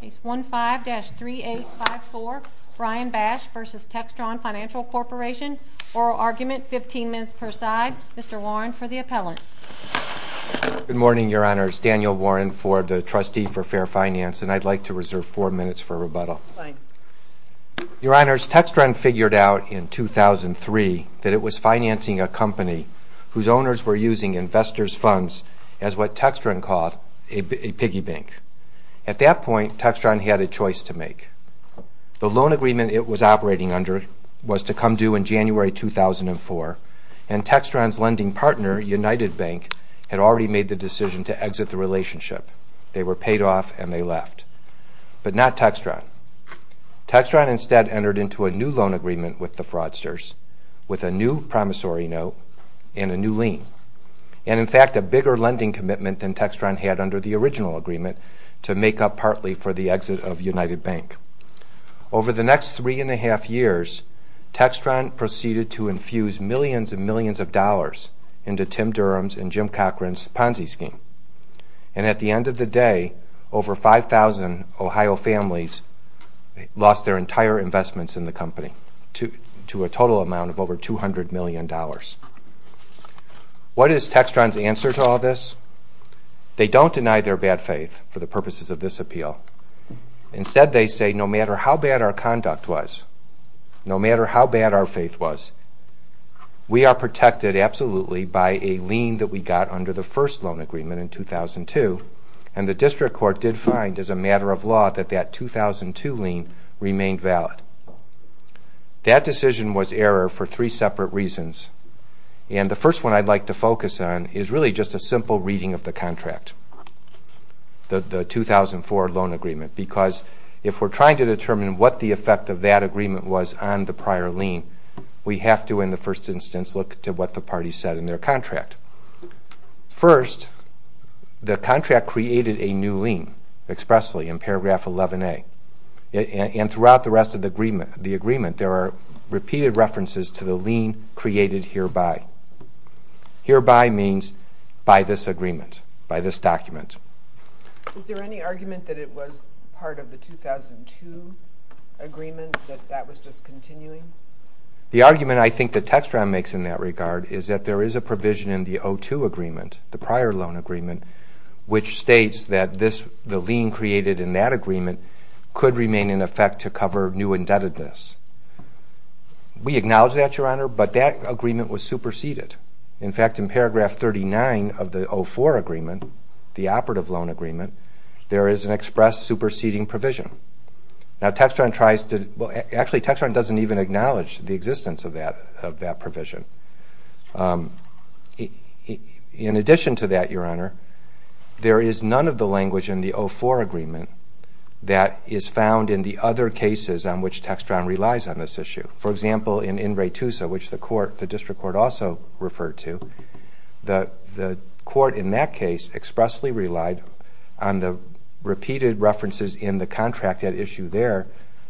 Case 15-3854, Brian Bash v. Textron Financial Corporation. Oral argument, 15 minutes per side. Mr. Warren for the appellant. Good morning, Your Honors. Daniel Warren for the Trustee for Fair Finance, and I'd like to reserve four minutes for rebuttal. Your Honors, Textron figured out in 2003 that it was financing a company whose owners were using investors' funds as what Textron called a piggy bank. At that point, Textron had a choice to make. The loan agreement it was operating under was to come due in January 2004, and Textron's lending partner, United Bank, had already made the decision to exit the relationship. They were paid off, and they left. But not Textron. Textron instead entered into a new loan agreement with the fraudsters with a new promissory note and a new lien, and in fact a bigger lending commitment than Textron had under the original agreement to make up partly for the exit of United Bank. Over the next three and a half years, Textron proceeded to infuse millions and millions of dollars into Tim Durham's and Jim Cochran's Ponzi scheme. And at the end of the day, over 5,000 Ohio families lost their entire investments in the company to a total amount of over $200 million. What is Textron's answer to all this? They don't deny their bad faith for the purposes of this appeal. Instead, they say no matter how bad our conduct was, no matter how bad our faith was, we are protected absolutely by a lien that we got under the first loan agreement in 2002, and the district court did find as a matter of law that that 2002 lien remained valid. That decision was error for three separate reasons, and the first one I'd like to focus on is really just a simple reading of the contract, the 2004 loan agreement, because if we're trying to determine what the effect of that agreement was on the prior lien, we have to, in the first instance, look to what the parties said in their contract. First, the contract created a new lien expressly in paragraph 11A, and throughout the rest of the agreement there are repeated references to the lien created hereby. Hereby means by this agreement, by this document. Is there any argument that it was part of the 2002 agreement, that that was just continuing? The argument I think that Textron makes in that regard is that there is a provision in the 2002 agreement, the prior loan agreement, which states that the lien created in that agreement could remain in effect to cover new indebtedness. We acknowledge that, Your Honor, but that agreement was superseded. In fact, in paragraph 39 of the 2004 agreement, the operative loan agreement, there is an express superseding provision. Actually, Textron doesn't even acknowledge the existence of that provision. In addition to that, Your Honor, there is none of the language in the 2004 agreement that is found in the other cases on which Textron relies on this issue. For example, in In re Tusa, which the District Court also referred to, the court in that case expressly relied on the repeated references in the contract at issue there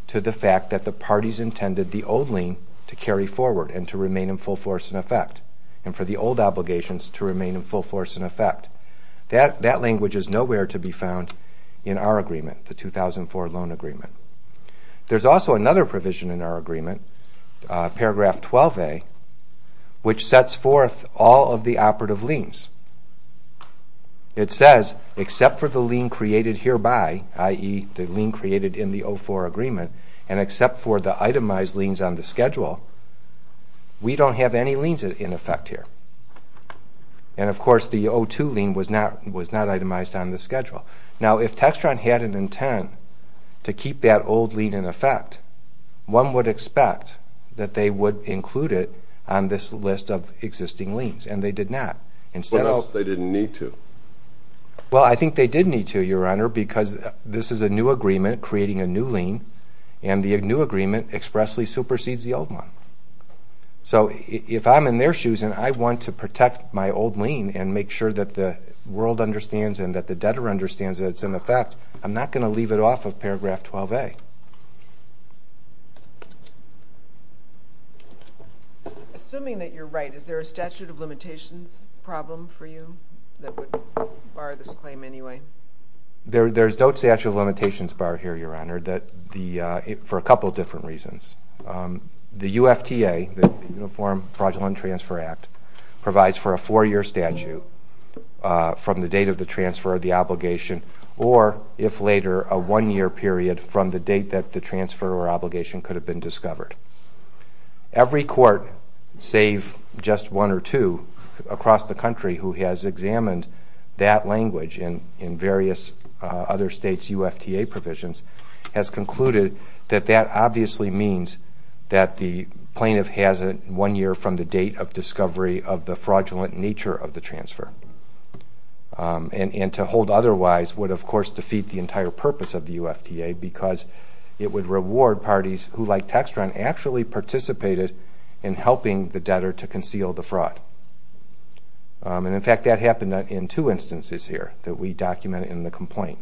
to the fact that the parties intended the old lien to carry forward and to remain in full force in effect and for the old obligations to remain in full force in effect. That language is nowhere to be found in our agreement, the 2004 loan agreement. There is also another provision in our agreement, paragraph 12a, which sets forth all of the operative liens. It says, except for the lien created hereby, i.e., the lien created in the 2004 agreement, and except for the itemized liens on the schedule, we don't have any liens in effect here. And, of course, the 2002 lien was not itemized on the schedule. Now, if Textron had an intent to keep that old lien in effect, one would expect that they would include it on this list of existing liens, and they did not. What if they didn't need to? Well, I think they did need to, Your Honor, because this is a new agreement creating a new lien, and the new agreement expressly supersedes the old one. So if I'm in their shoes and I want to protect my old lien and make sure that the world understands and that the debtor understands that it's in effect, I'm not going to leave it off of paragraph 12a. Assuming that you're right, is there a statute of limitations problem for you that would bar this claim anyway? There's no statute of limitations bar here, Your Honor, for a couple different reasons. The UFTA, the Uniform Fraudulent Transfer Act, provides for a four-year statute from the date of the transfer of the obligation or, if later, a one-year period from the date that the transfer or obligation could have been discovered. Every court, save just one or two across the country who has examined that language in various other states' UFTA provisions, has concluded that that obviously means that the plaintiff has a one year from the date of discovery of the fraudulent nature of the transfer. And to hold otherwise would, of course, defeat the entire purpose of the UFTA because it would reward parties who, like Textron, actually participated in helping the debtor to conceal the fraud. And, in fact, that happened in two instances here that we documented in the complaint.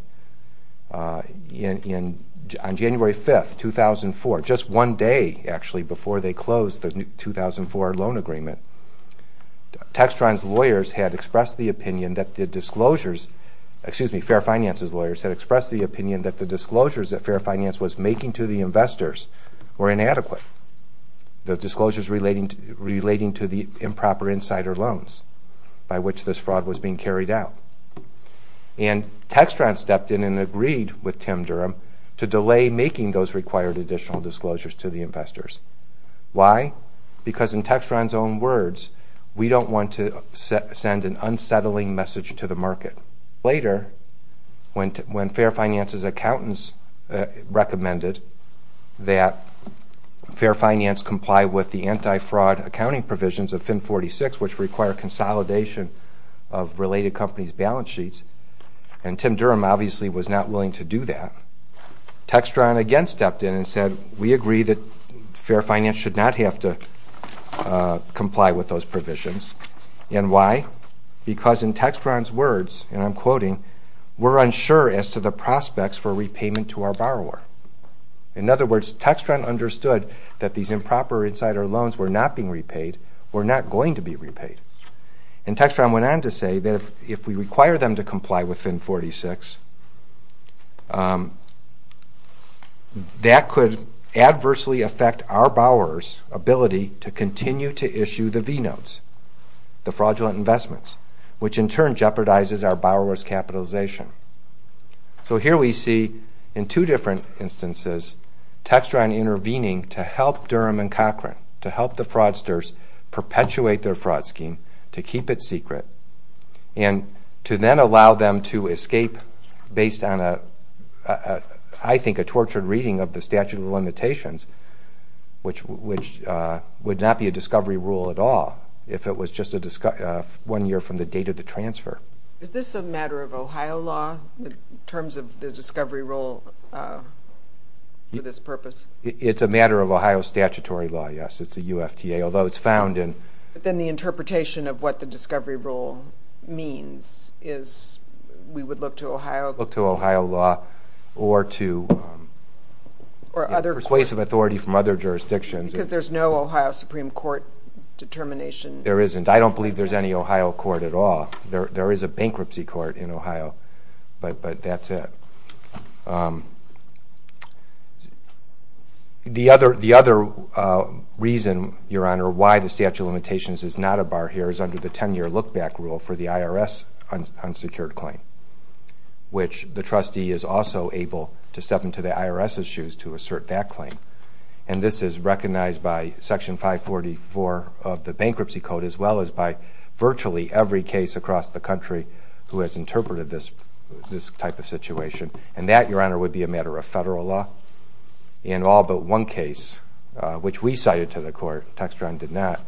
On January 5, 2004, just one day, actually, before they closed the 2004 loan agreement, Textron's lawyers had expressed the opinion that the disclosures, excuse me, Fair Finance's lawyers had expressed the opinion that the disclosures that Fair Finance was making to the investors were inadequate, the disclosures relating to the improper insider loans by which this fraud was being carried out. And Textron stepped in and agreed with Tim Durham to delay making those required additional disclosures to the investors. Why? Because in Textron's own words, we don't want to send an unsettling message to the market. Later, when Fair Finance's accountants recommended that Fair Finance comply with the anti-fraud accounting provisions of FIN 46, which require consolidation of related companies' balance sheets, and Tim Durham obviously was not willing to do that, Textron again stepped in and said, we agree that Fair Finance should not have to comply with those provisions. And why? Because in Textron's words, and I'm quoting, we're unsure as to the prospects for repayment to our borrower. In other words, Textron understood that these improper insider loans were not being repaid, were not going to be repaid. And Textron went on to say that if we require them to comply with FIN 46, that could adversely affect our borrower's ability to continue to issue the V-notes, the fraudulent investments, which in turn jeopardizes our borrower's capitalization. So here we see, in two different instances, Textron intervening to help Durham and Cochrane, to help the fraudsters perpetuate their fraud scheme, to keep it secret, and to then allow them to escape based on, I think, a tortured reading of the statute of limitations, which would not be a discovery rule at all if it was just one year from the date of the transfer. Is this a matter of Ohio law in terms of the discovery rule for this purpose? It's a matter of Ohio statutory law, yes. It's a UFTA, although it's found in... But then the interpretation of what the discovery rule means is we would look to Ohio... Look to Ohio law or to... Or other... Requies of authority from other jurisdictions... Because there's no Ohio Supreme Court determination... There isn't. I don't believe there's any Ohio court at all. There is a bankruptcy court in Ohio, but that's it. The other reason, Your Honor, why the statute of limitations is not a bar here is under the 10-year look-back rule for the IRS unsecured claim, which the trustee is also able to step into the IRS's shoes to assert that claim. And this is recognized by Section 544 of the Bankruptcy Code, as well as by virtually every case across the country who has interpreted this type of situation. And that, Your Honor, would be a matter of federal law. And all but one case, which we cited to the court, Textron did not,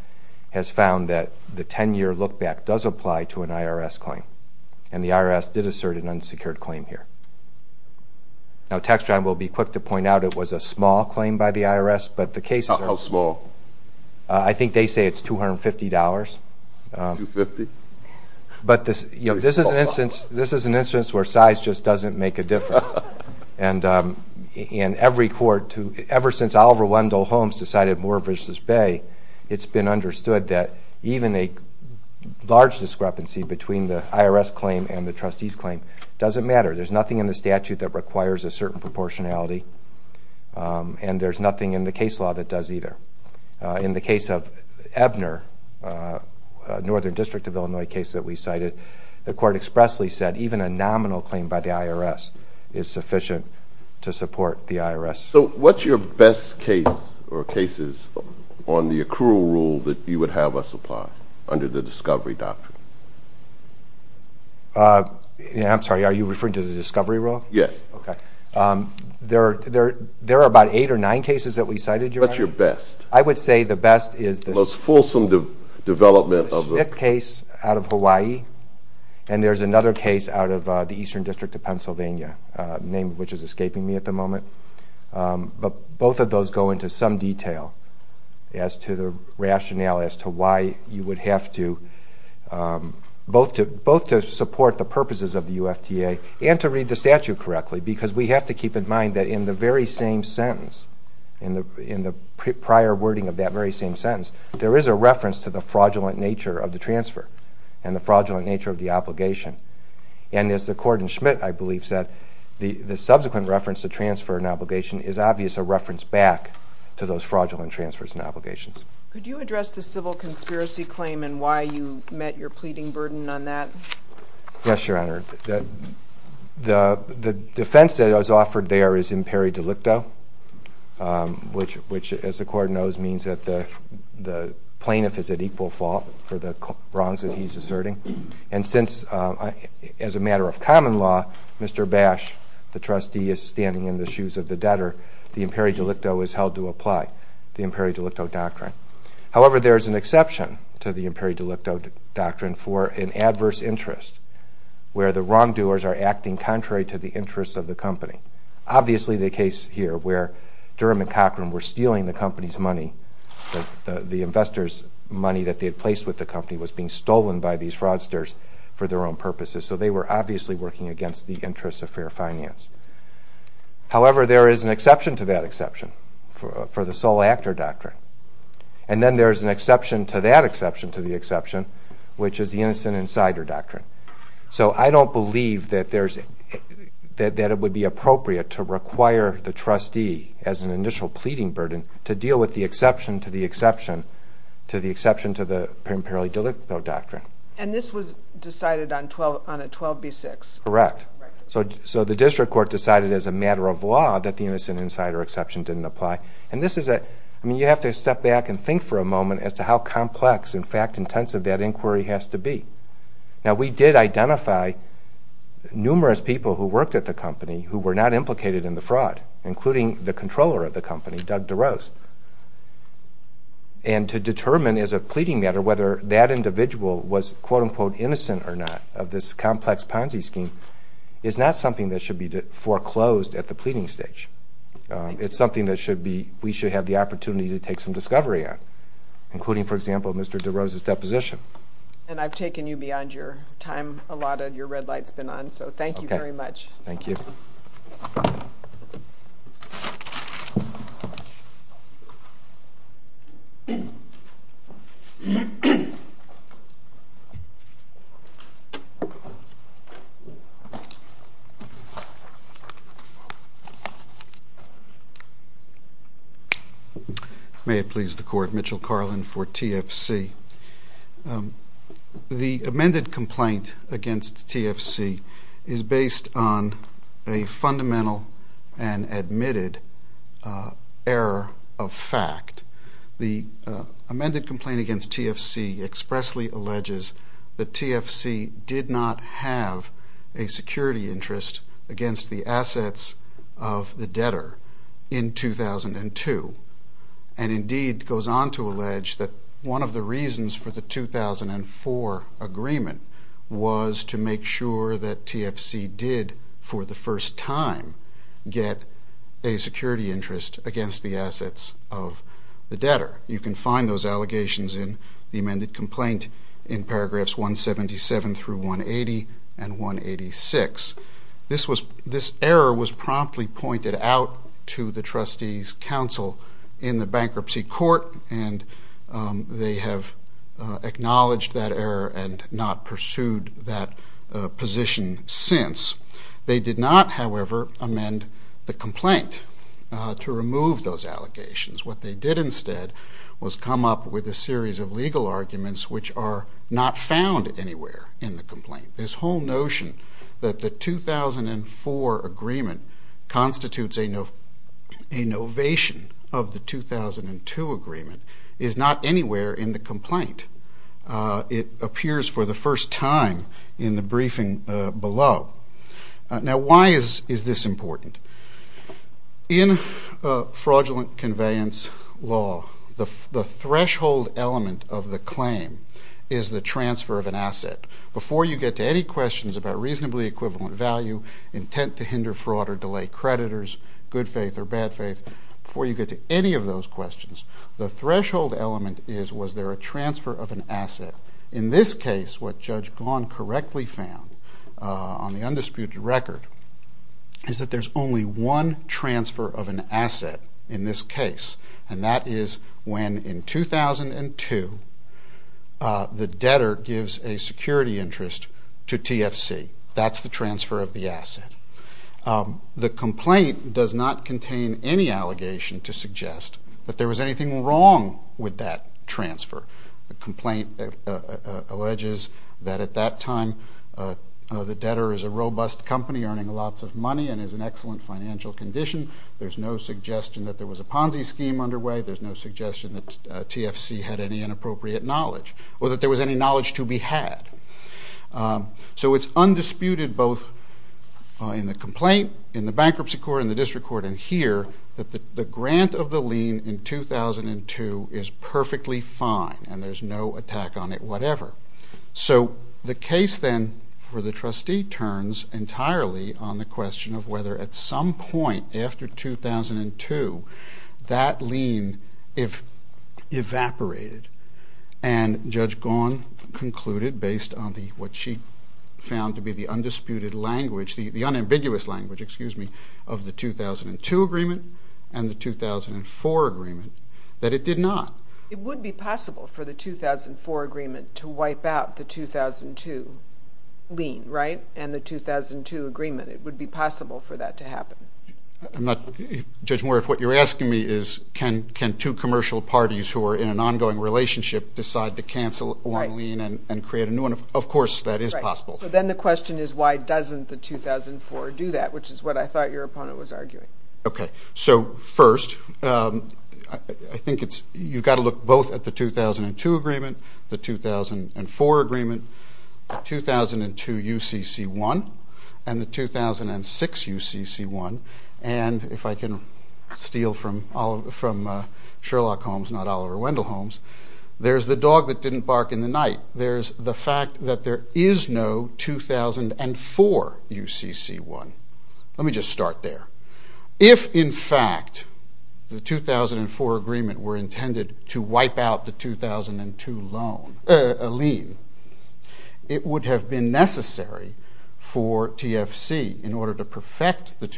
has found that the 10-year look-back does apply to an IRS claim, and the IRS did assert an unsecured claim here. Now, Textron will be quick to point out it was a small claim by the IRS, but the case... How small? I think they say it's $250. $250? But this is an instance where size just doesn't make a difference. And every court, ever since Oliver Wendell Holmes decided Moore v. Bay, it's been understood that even a large discrepancy between the IRS claim and the trustee's claim doesn't matter. There's nothing in the statute that requires a certain proportionality, and there's nothing in the case law that does either. In the case of Ebner, a Northern District of Illinois case that we cited, the court expressly said even a nominal claim by the IRS is sufficient to support the IRS. So what's your best case or cases on the accrual rule that you would have us apply under the discovery doctrine? I'm sorry, are you referring to the discovery rule? Yes. Okay. There are about eight or nine cases that we cited, Your Honor. What's your best? I would say the best is the Smith case out of Hawaii, and there's another case out of the Eastern District of Pennsylvania, a name which is escaping me at the moment. But both of those go into some detail as to the rationale as to why you would have to, both to support the purposes of the UFTA and to read the statute correctly because we have to keep in mind that in the very same sentence, in the prior wording of that very same sentence, there is a reference to the fraudulent nature of the transfer and the fraudulent nature of the obligation. And as the court in Schmidt, I believe, said, the subsequent reference to transfer and obligation is obvious, a reference back to those fraudulent transfers and obligations. Could you address the civil conspiracy claim and why you met your pleading burden on that? Yes, Your Honor. The defense that is offered there is imperi delicto, which, as the court knows, means that the plaintiff is at equal fault for the wrongs that he's asserting. And since, as a matter of common law, Mr. Bash, the trustee, is standing in the shoes of the debtor, the imperi delicto is held to apply, the imperi delicto doctrine. However, there is an exception to the imperi delicto doctrine for an adverse interest where the wrongdoers are acting contrary to the interests of the company. Obviously, the case here where Durham and Cochran were stealing the company's money, the investor's money that they had placed with the company, was being stolen by these fraudsters for their own purposes. So they were obviously working against the interests of fair finance. However, there is an exception to that exception for the sole actor doctrine. And then there is an exception to that exception to the exception, which is the innocent insider doctrine. So I don't believe that it would be appropriate to require the trustee, as an initial pleading burden, to deal with the exception to the exception to the imperi delicto doctrine. And this was decided on a 12B6? Correct. So the district court decided as a matter of law that the innocent insider exception didn't apply. And this is a—I mean, you have to step back and think for a moment as to how complex and fact-intensive that inquiry has to be. Now, we did identify numerous people who worked at the company who were not implicated in the fraud, including the controller of the company, Doug DeRose. And to determine, as a pleading matter, whether that individual was, quote-unquote, innocent or not of this complex Ponzi scheme is not something that should be foreclosed at the pleading stage. It's something that should be—we should have the opportunity to take some discovery on, including, for example, Mr. DeRose's deposition. And I've taken you beyond your time. A lot of your red light's been on, so thank you very much. Thank you. May it please the Court. Mitchell Carlin for TFC. The amended complaint against TFC is based on a fundamental and admitted error of fact. The amended complaint against TFC expressly alleges that TFC did not have a security interest against the assets of the debtor in 2002, and indeed goes on to allege that one of the reasons for the 2004 agreement was to make sure that TFC did, for the first time, get a security interest against the assets of the debtor. You can find those allegations in the amended complaint in paragraphs 177 through 180 and 186. This error was promptly pointed out to the trustees' counsel in the bankruptcy court, and they have acknowledged that error and not pursued that position since. They did not, however, amend the complaint to remove those allegations. What they did instead was come up with a series of legal arguments which are not found anywhere in the complaint. This whole notion that the 2004 agreement constitutes a novation of the 2002 agreement is not anywhere in the complaint. It appears for the first time in the briefing below. Now, why is this important? In fraudulent conveyance law, the threshold element of the claim is the transfer of an asset. Before you get to any questions about reasonably equivalent value, intent to hinder fraud or delay creditors, good faith or bad faith, before you get to any of those questions, the threshold element is, was there a transfer of an asset? In this case, what Judge Gaughan correctly found on the undisputed record is that there's only one transfer of an asset in this case, and that is when in 2002 the debtor gives a security interest to TFC. That's the transfer of the asset. The complaint does not contain any allegation to suggest that there was anything wrong with that transfer. The complaint alleges that at that time the debtor is a robust company earning lots of money and is in excellent financial condition. There's no suggestion that there was a Ponzi scheme underway. There's no suggestion that TFC had any inappropriate knowledge or that there was any knowledge to be had. So it's undisputed both in the complaint, in the bankruptcy court, in the district court and here that the grant of the lien in 2002 is perfectly fine and there's no attack on it whatever. So the case then for the trustee turns entirely on the question of whether at some point after 2002 that lien evaporated and Judge Gaughan concluded based on what she found to be the undisputed language, the unambiguous language, excuse me, of the 2002 agreement and the 2004 agreement, that it did not. It would be possible for the 2004 agreement to wipe out the 2002 lien, right, and the 2002 agreement. It would be possible for that to happen. Judge Moore, if what you're asking me is can two commercial parties who are in an ongoing relationship decide to cancel one lien and create a new one, of course that is possible. Right. So then the question is why doesn't the 2004 do that, which is what I thought your opponent was arguing. Okay. So first, I think you've got to look both at the 2002 agreement, the 2004 agreement, the 2002 UCC-1 and the 2006 UCC-1 and if I can steal from Sherlock Holmes, not Oliver Wendell Holmes, there's the dog that didn't bark in the night. There's the fact that there is no 2004 UCC-1. Let me just start there. If, in fact, the 2004 agreement were intended to wipe out the 2002 loan, lien, it would have been necessary for TFC, in order to perfect what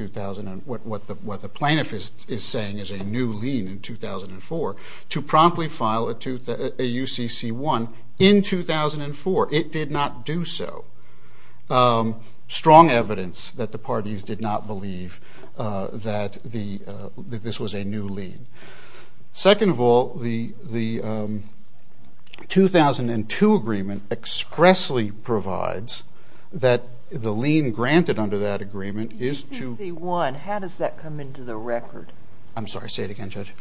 the plaintiff is saying is a new lien in 2004, to promptly file a UCC-1 in 2004. It did not do so. Strong evidence that the parties did not believe that this was a new lien. Second of all, the 2002 agreement expressly provides that the lien granted under that agreement is to The UCC-1, how does that come into the record? I'm sorry, say it again, Judge.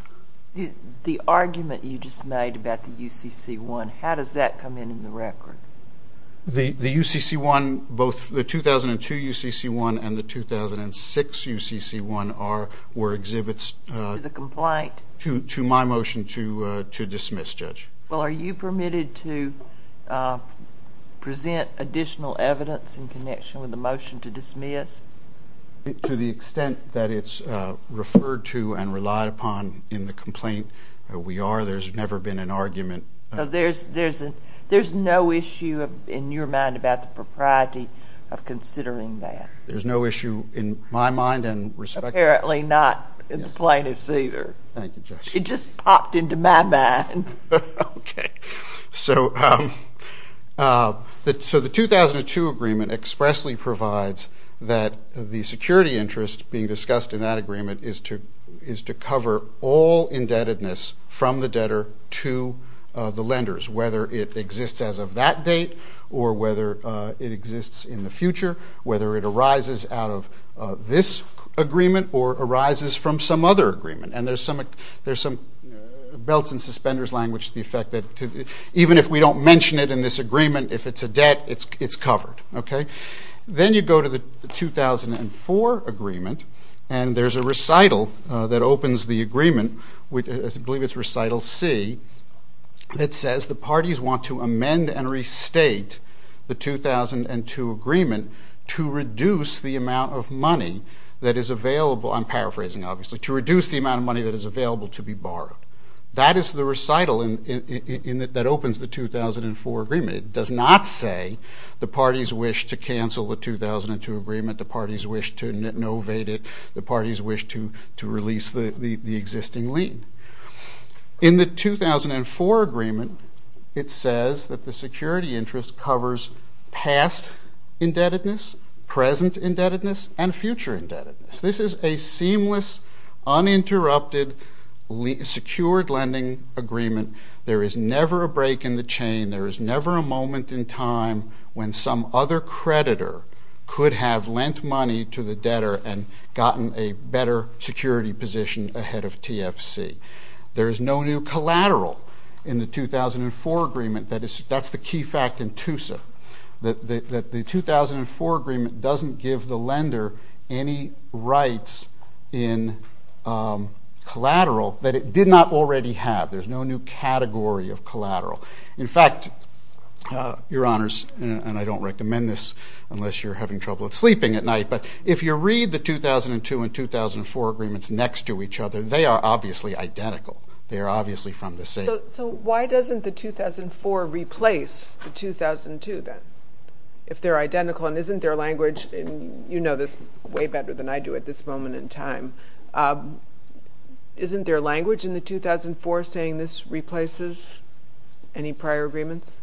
The argument you just made about the UCC-1, how does that come into the record? The UCC-1, both the 2002 UCC-1 and the 2006 UCC-1 were exhibits to my motion to dismiss, Judge. Well, are you permitted to present additional evidence in connection with the motion to dismiss? To the extent that it's referred to and relied upon in the complaint, we are. There's never been an argument. So there's no issue in your mind about the propriety of considering that? There's no issue in my mind and respect. Apparently not in the plaintiff's either. Thank you, Judge. It just popped into my mind. Okay. So the 2002 agreement expressly provides that the security interest being discussed in that agreement is to cover all indebtedness from the debtor to the lenders, whether it exists as of that date or whether it exists in the future, whether it arises out of this agreement or arises from some other agreement. And there's some belts and suspenders language to the effect that even if we don't mention it in this agreement, if it's a debt, it's covered. Okay? Then you go to the 2004 agreement, and there's a recital that opens the agreement, I believe it's recital C, that says the parties want to amend and restate the 2002 agreement to reduce the amount of money that is available. I'm paraphrasing, obviously. To reduce the amount of money that is available to be borrowed. That is the recital that opens the 2004 agreement. It does not say the parties wish to cancel the 2002 agreement, the parties wish to innovate it, the parties wish to release the existing lien. In the 2004 agreement, it says that the security interest covers past indebtedness, present indebtedness, and future indebtedness. This is a seamless, uninterrupted, secured lending agreement. There is never a break in the chain. There is never a moment in time when some other creditor could have lent money to the debtor and gotten a better security position ahead of TFC. There is no new collateral in the 2004 agreement. That's the key fact in TUSA, that the 2004 agreement doesn't give the lender any rights in collateral that it did not already have. There's no new category of collateral. In fact, Your Honors, and I don't recommend this unless you're having trouble sleeping at night, but if you read the 2002 and 2004 agreements next to each other, they are obviously identical. They are obviously from the same... So why doesn't the 2004 replace the 2002 then? If they're identical and isn't their language, and you know this way better than I do at this moment in time, isn't their language in the 2004 saying this replaces any prior agreements?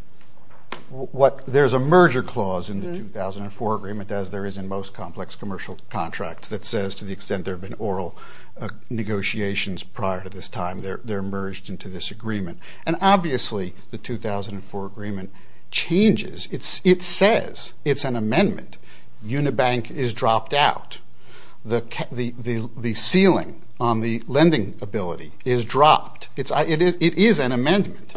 There's a merger clause in the 2004 agreement, as there is in most complex commercial contracts, that says to the extent there have been oral negotiations prior to this time, they're merged into this agreement. And obviously the 2004 agreement changes. It says it's an amendment. Unibank is dropped out. The ceiling on the lending ability is dropped. It is an amendment.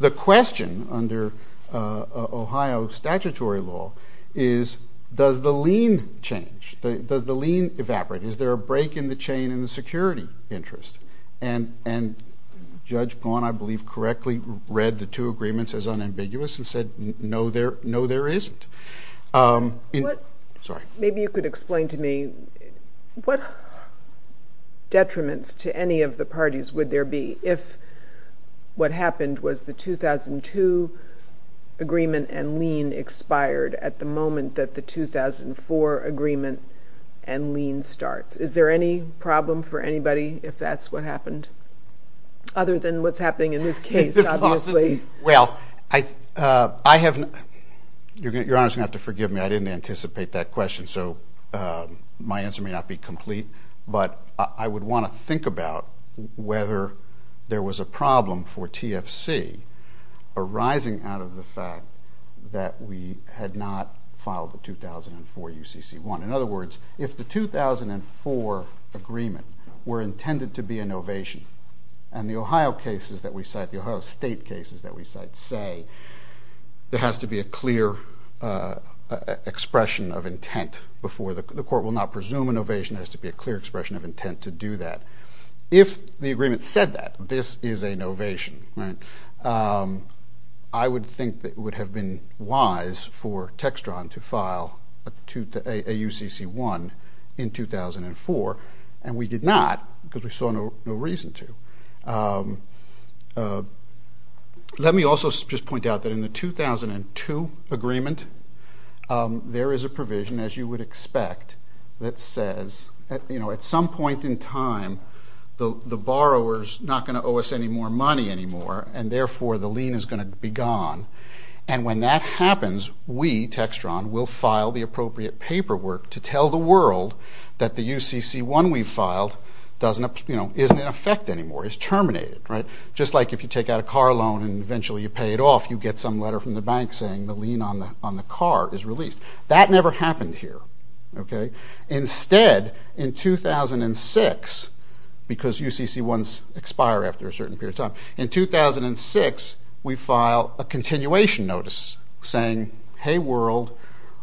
The question under Ohio statutory law is, does the lien change? Does the lien evaporate? Is there a break in the chain in the security interest? And Judge Gaunt, I believe, correctly read the two agreements as unambiguous and said, no, there isn't. Maybe you could explain to me, what detriments to any of the parties would there be if what happened was the 2002 agreement and lien expired at the moment that the 2004 agreement and lien starts? Is there any problem for anybody if that's what happened? Other than what's happening in this case, obviously. Well, your Honor is going to have to forgive me. I didn't anticipate that question, so my answer may not be complete. But I would want to think about whether there was a problem for TFC arising out of the fact that we had not filed the 2004 UCC1. In other words, if the 2004 agreement were intended to be an ovation, and the Ohio cases that we cite, the Ohio State cases that we cite say, there has to be a clear expression of intent before the court will not presume an ovation. There has to be a clear expression of intent to do that. If the agreement said that, this is an ovation, right? I would think that it would have been wise for Textron to file a UCC1 in 2004, and we did not because we saw no reason to. Let me also just point out that in the 2002 agreement, there is a provision, as you would expect, that says at some point in time the borrower is not going to owe us any more money anymore, and therefore the lien is going to be gone. And when that happens, we, Textron, will file the appropriate paperwork to tell the world that the UCC1 we filed isn't in effect anymore, is terminated. Just like if you take out a car loan and eventually you pay it off, you get some letter from the bank saying the lien on the car is released. That never happened here. Instead, in 2006, because UCC1s expire after a certain period of time, in 2006 we file a continuation notice saying, hey world,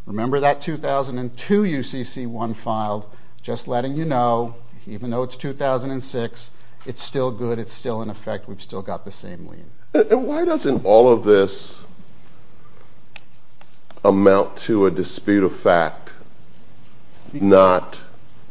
remember that 2002 UCC1 filed? Just letting you know, even though it's 2006, it's still good, it's still in effect, we've still got the same lien. And why doesn't all of this amount to a dispute of fact not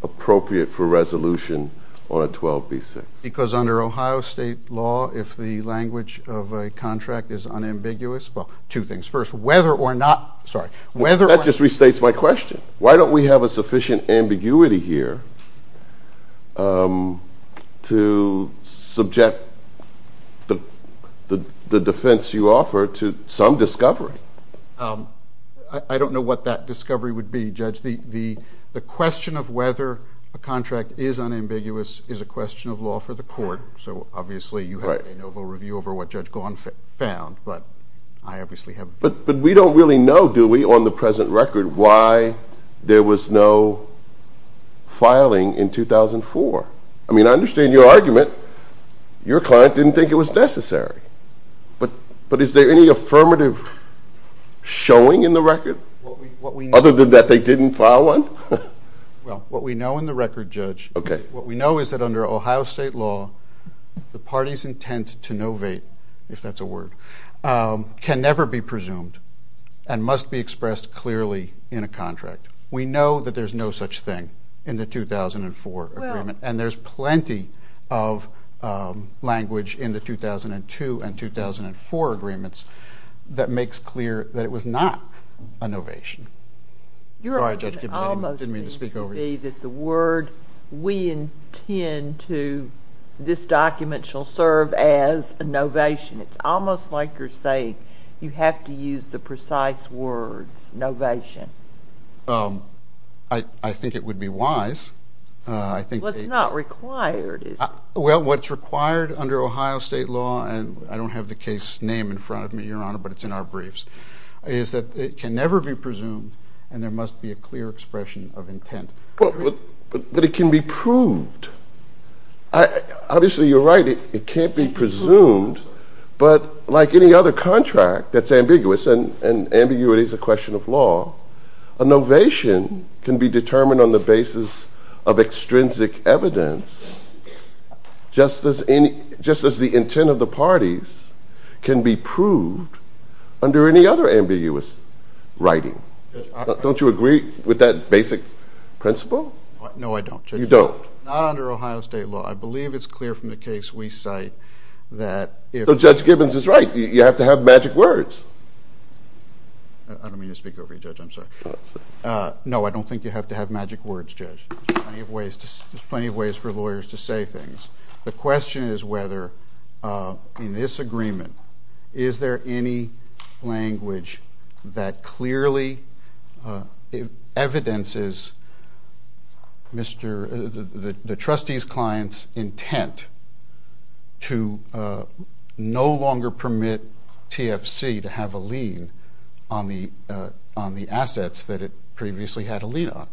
appropriate for resolution on a 12b6? Because under Ohio State law, if the language of a contract is unambiguous, well, two things. First, whether or not, sorry. That just restates my question. Why don't we have a sufficient ambiguity here to subject the defense you offer to some discovery? I don't know what that discovery would be, Judge. The question of whether a contract is unambiguous is a question of law for the court. So obviously you have a noble review over what Judge Gawne found, but I obviously have. But we don't really know, do we, on the present record, why there was no filing in 2004? I mean, I understand your argument. Your client didn't think it was necessary. But is there any affirmative showing in the record? Other than that they didn't file one? Well, what we know in the record, Judge, what we know is that under Ohio State law, the party's intent to novate, if that's a word, can never be presumed and must be expressed clearly in a contract. We know that there's no such thing in the 2004 agreement. And there's plenty of language in the 2002 and 2004 agreements that makes clear that it was not a novation. Your argument almost seems to be that the word we intend to this document shall serve as a novation. It's almost like you're saying you have to use the precise words, novation. I think it would be wise. What's not required? Well, what's required under Ohio State law, and I don't have the case name in front of me, Your Honor, but it's in our briefs, is that it can never be presumed and there must be a clear expression of intent. But it can be proved. Obviously, you're right, it can't be presumed. But like any other contract that's ambiguous, and ambiguity is a question of law, a novation can be determined on the basis of extrinsic evidence, just as the intent of the parties can be proved under any other ambiguous writing. Don't you agree with that basic principle? No, I don't. You don't? Not under Ohio State law. I believe it's clear from the case we cite that if... So Judge Gibbons is right. You have to have magic words. I don't mean to speak over you, Judge, I'm sorry. No, I don't think you have to have magic words, Judge. There's plenty of ways for lawyers to say things. The question is whether, in this agreement, is there any language that clearly evidences the trustee's client's intent to no longer permit TFC to have a lien on the assets that it previously had a lien on.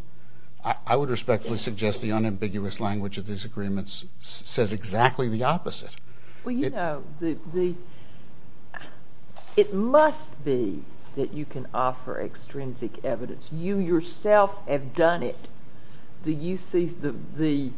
I would respectfully suggest the unambiguous language of these agreements says exactly the opposite. Well, you know, it must be that you can offer extrinsic evidence. You yourself have done it. The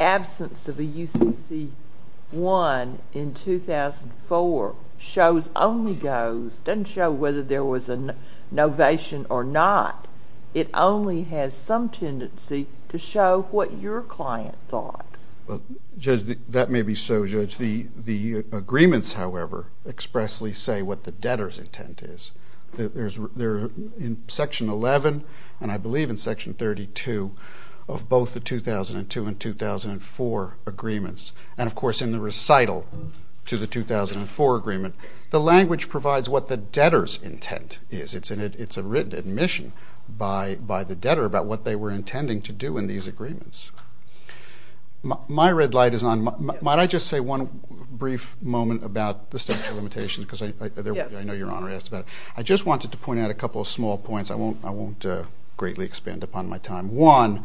absence of a UCC-1 in 2004 shows, only goes, doesn't show whether there was a novation or not. It only has some tendency to show what your client thought. Well, Judge, that may be so, Judge. The agreements, however, expressly say what the debtor's intent is. They're in Section 11 and I believe in Section 32 of both the 2002 and 2004 agreements. And, of course, in the recital to the 2004 agreement, the language provides what the debtor's intent is. It's a written admission by the debtor about what they were intending to do in these agreements. My red light is on. Might I just say one brief moment about the statute of limitations because I know Your Honor asked about it. I just wanted to point out a couple of small points. I won't greatly expand upon my time. One,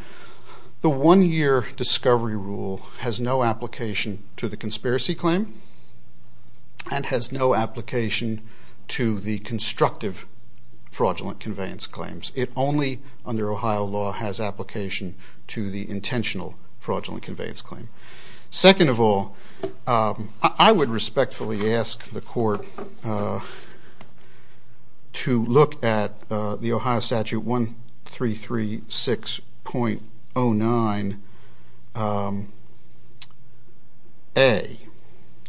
the one-year discovery rule has no application to the conspiracy claim and has no application to the constructive fraudulent conveyance claims. It only, under Ohio law, has application to the intentional fraudulent conveyance claim. Second of all, I would respectfully ask the Court to look at the Ohio Statute 1336.09A,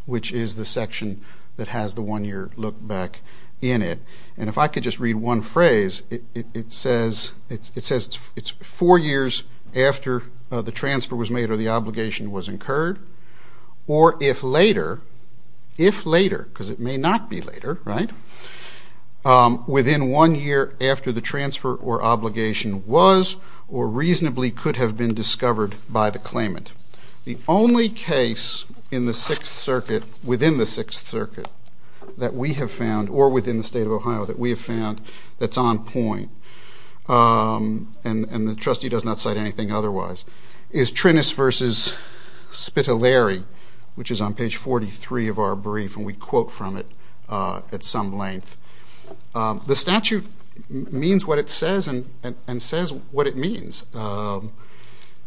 which is the section that has the one-year look back in it. And if I could just read one phrase, it says it's four years after the transfer was made or the obligation was incurred, or if later, if later, because it may not be later, right, within one year after the transfer or obligation was or reasonably could have been discovered by the claimant. The only case in the Sixth Circuit, within the Sixth Circuit that we have found, or within the State of Ohio that we have found that's on point, and the trustee does not cite anything otherwise, is Trinis v. Spitaleri, which is on page 43 of our brief, and we quote from it at some length. The statute means what it says and says what it means.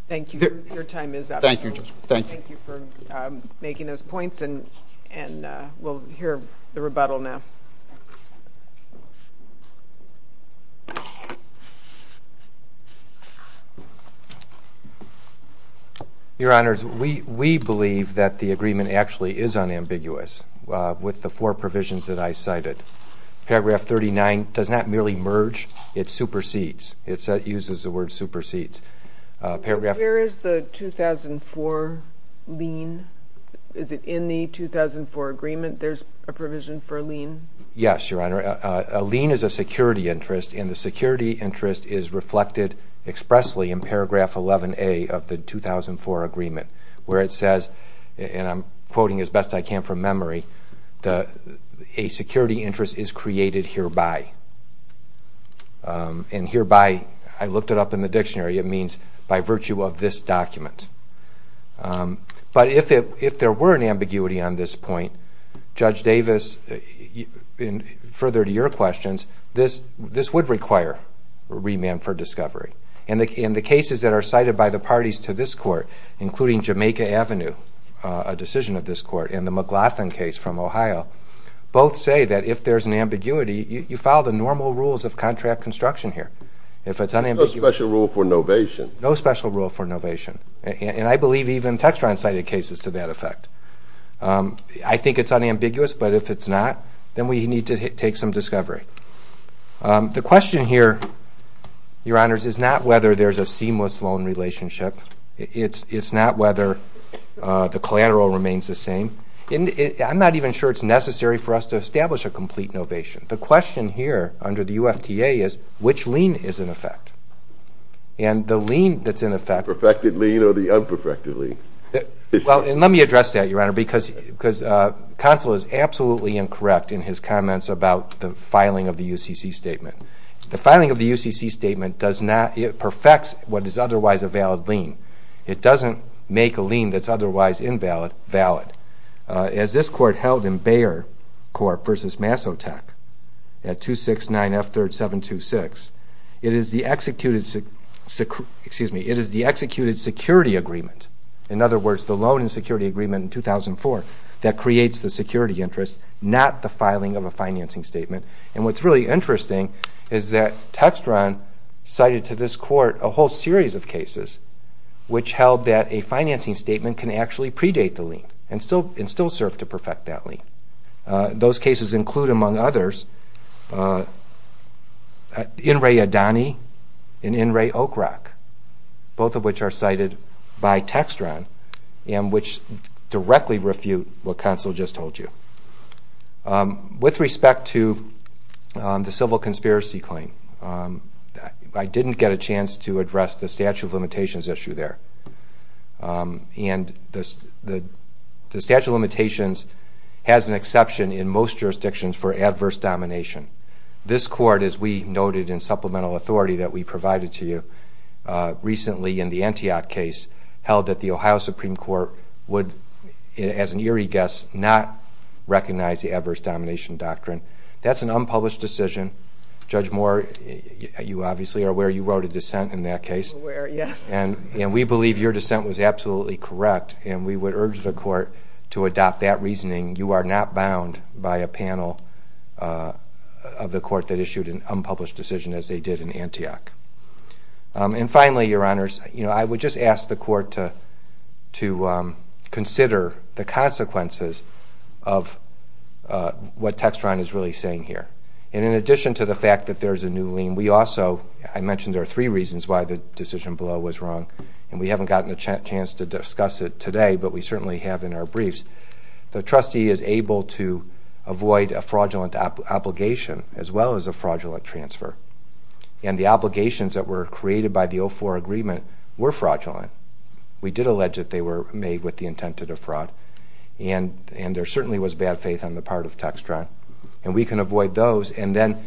Thank you. Your time is up. Thank you, Judge. Thank you, Your Honor. Your Honors, we believe that the agreement actually is unambiguous with the four provisions that I cited. Paragraph 39 does not merely merge, it supersedes. It uses the word supersedes. Where is the 2004 lien? Is it in the 2004 agreement? There's a provision for a lien? Yes, Your Honor. A lien is a security interest, and the security interest is reflected expressly in paragraph 11A of the 2004 agreement, where it says, and I'm quoting as best I can from memory, a security interest is created hereby. And hereby, I looked it up in the dictionary, it means by virtue of this document. But if there were an ambiguity on this point, Judge Davis, further to your questions, this would require remand for discovery. And the cases that are cited by the parties to this court, including Jamaica Avenue, a decision of this court, and the McLaughlin case from Ohio, both say that if there's an ambiguity, you follow the normal rules of contract construction here. If it's unambiguous. No special rule for novation. And I believe even Textron cited cases to that effect. I think it's unambiguous, but if it's not, then we need to take some discovery. The question here, Your Honors, is not whether there's a seamless loan relationship. It's not whether the collateral remains the same. I'm not even sure it's necessary for us to establish a complete novation. The question here under the UFTA is, which lien is in effect? And the lien that's in effect. The perfected lien or the unperfected lien? Well, and let me address that, Your Honor, because Counsel is absolutely incorrect in his comments about the filing of the UCC statement. The filing of the UCC statement does not, it perfects what is otherwise a valid lien. It doesn't make a lien that's otherwise invalid valid. As this Court held in Bayer Court v. Massotech at 269F3726, it is the executed security agreement, in other words, the loan and security agreement in 2004, that creates the security interest, not the filing of a financing statement. And what's really interesting is that Textron cited to this Court a whole series of cases which held that a financing statement can actually predate the lien and still serve to perfect that lien. Those cases include, among others, In re Adani and In re Oak Rock, both of which are cited by Textron and which directly refute what Counsel just told you. With respect to the civil conspiracy claim, I didn't get a chance to address the statute of limitations issue there. And the statute of limitations has an exception in most jurisdictions for adverse domination. This Court, as we noted in supplemental authority that we provided to you recently in the Antioch case, held that the Ohio Supreme Court would, as an eerie guess, not recognize the adverse domination doctrine. That's an unpublished decision. Judge Moore, you obviously are aware you wrote a dissent in that case. I'm aware, yes. And we believe your dissent was absolutely correct, and we would urge the Court to adopt that reasoning. You are not bound by a panel of the Court that issued an unpublished decision as they did in Antioch. And finally, Your Honors, I would just ask the Court to consider the consequences of what Textron is really saying here. And in addition to the fact that there's a new lien, we also, I mentioned there are three reasons why the decision below was wrong, and we haven't gotten a chance to discuss it today, but we certainly have in our briefs. The trustee is able to avoid a fraudulent obligation as well as a fraudulent transfer. And the obligations that were created by the 04 agreement were fraudulent. We did allege that they were made with the intent to defraud. And there certainly was bad faith on the part of Textron. And we can avoid those. And then,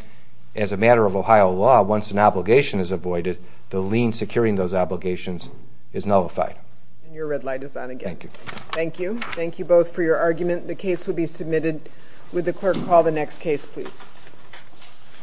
as a matter of Ohio law, once an obligation is avoided, the lien securing those obligations is nullified. And your red light is on again. Thank you. Thank you. Thank you both for your argument. The case will be submitted. Would the Court call the next case, please?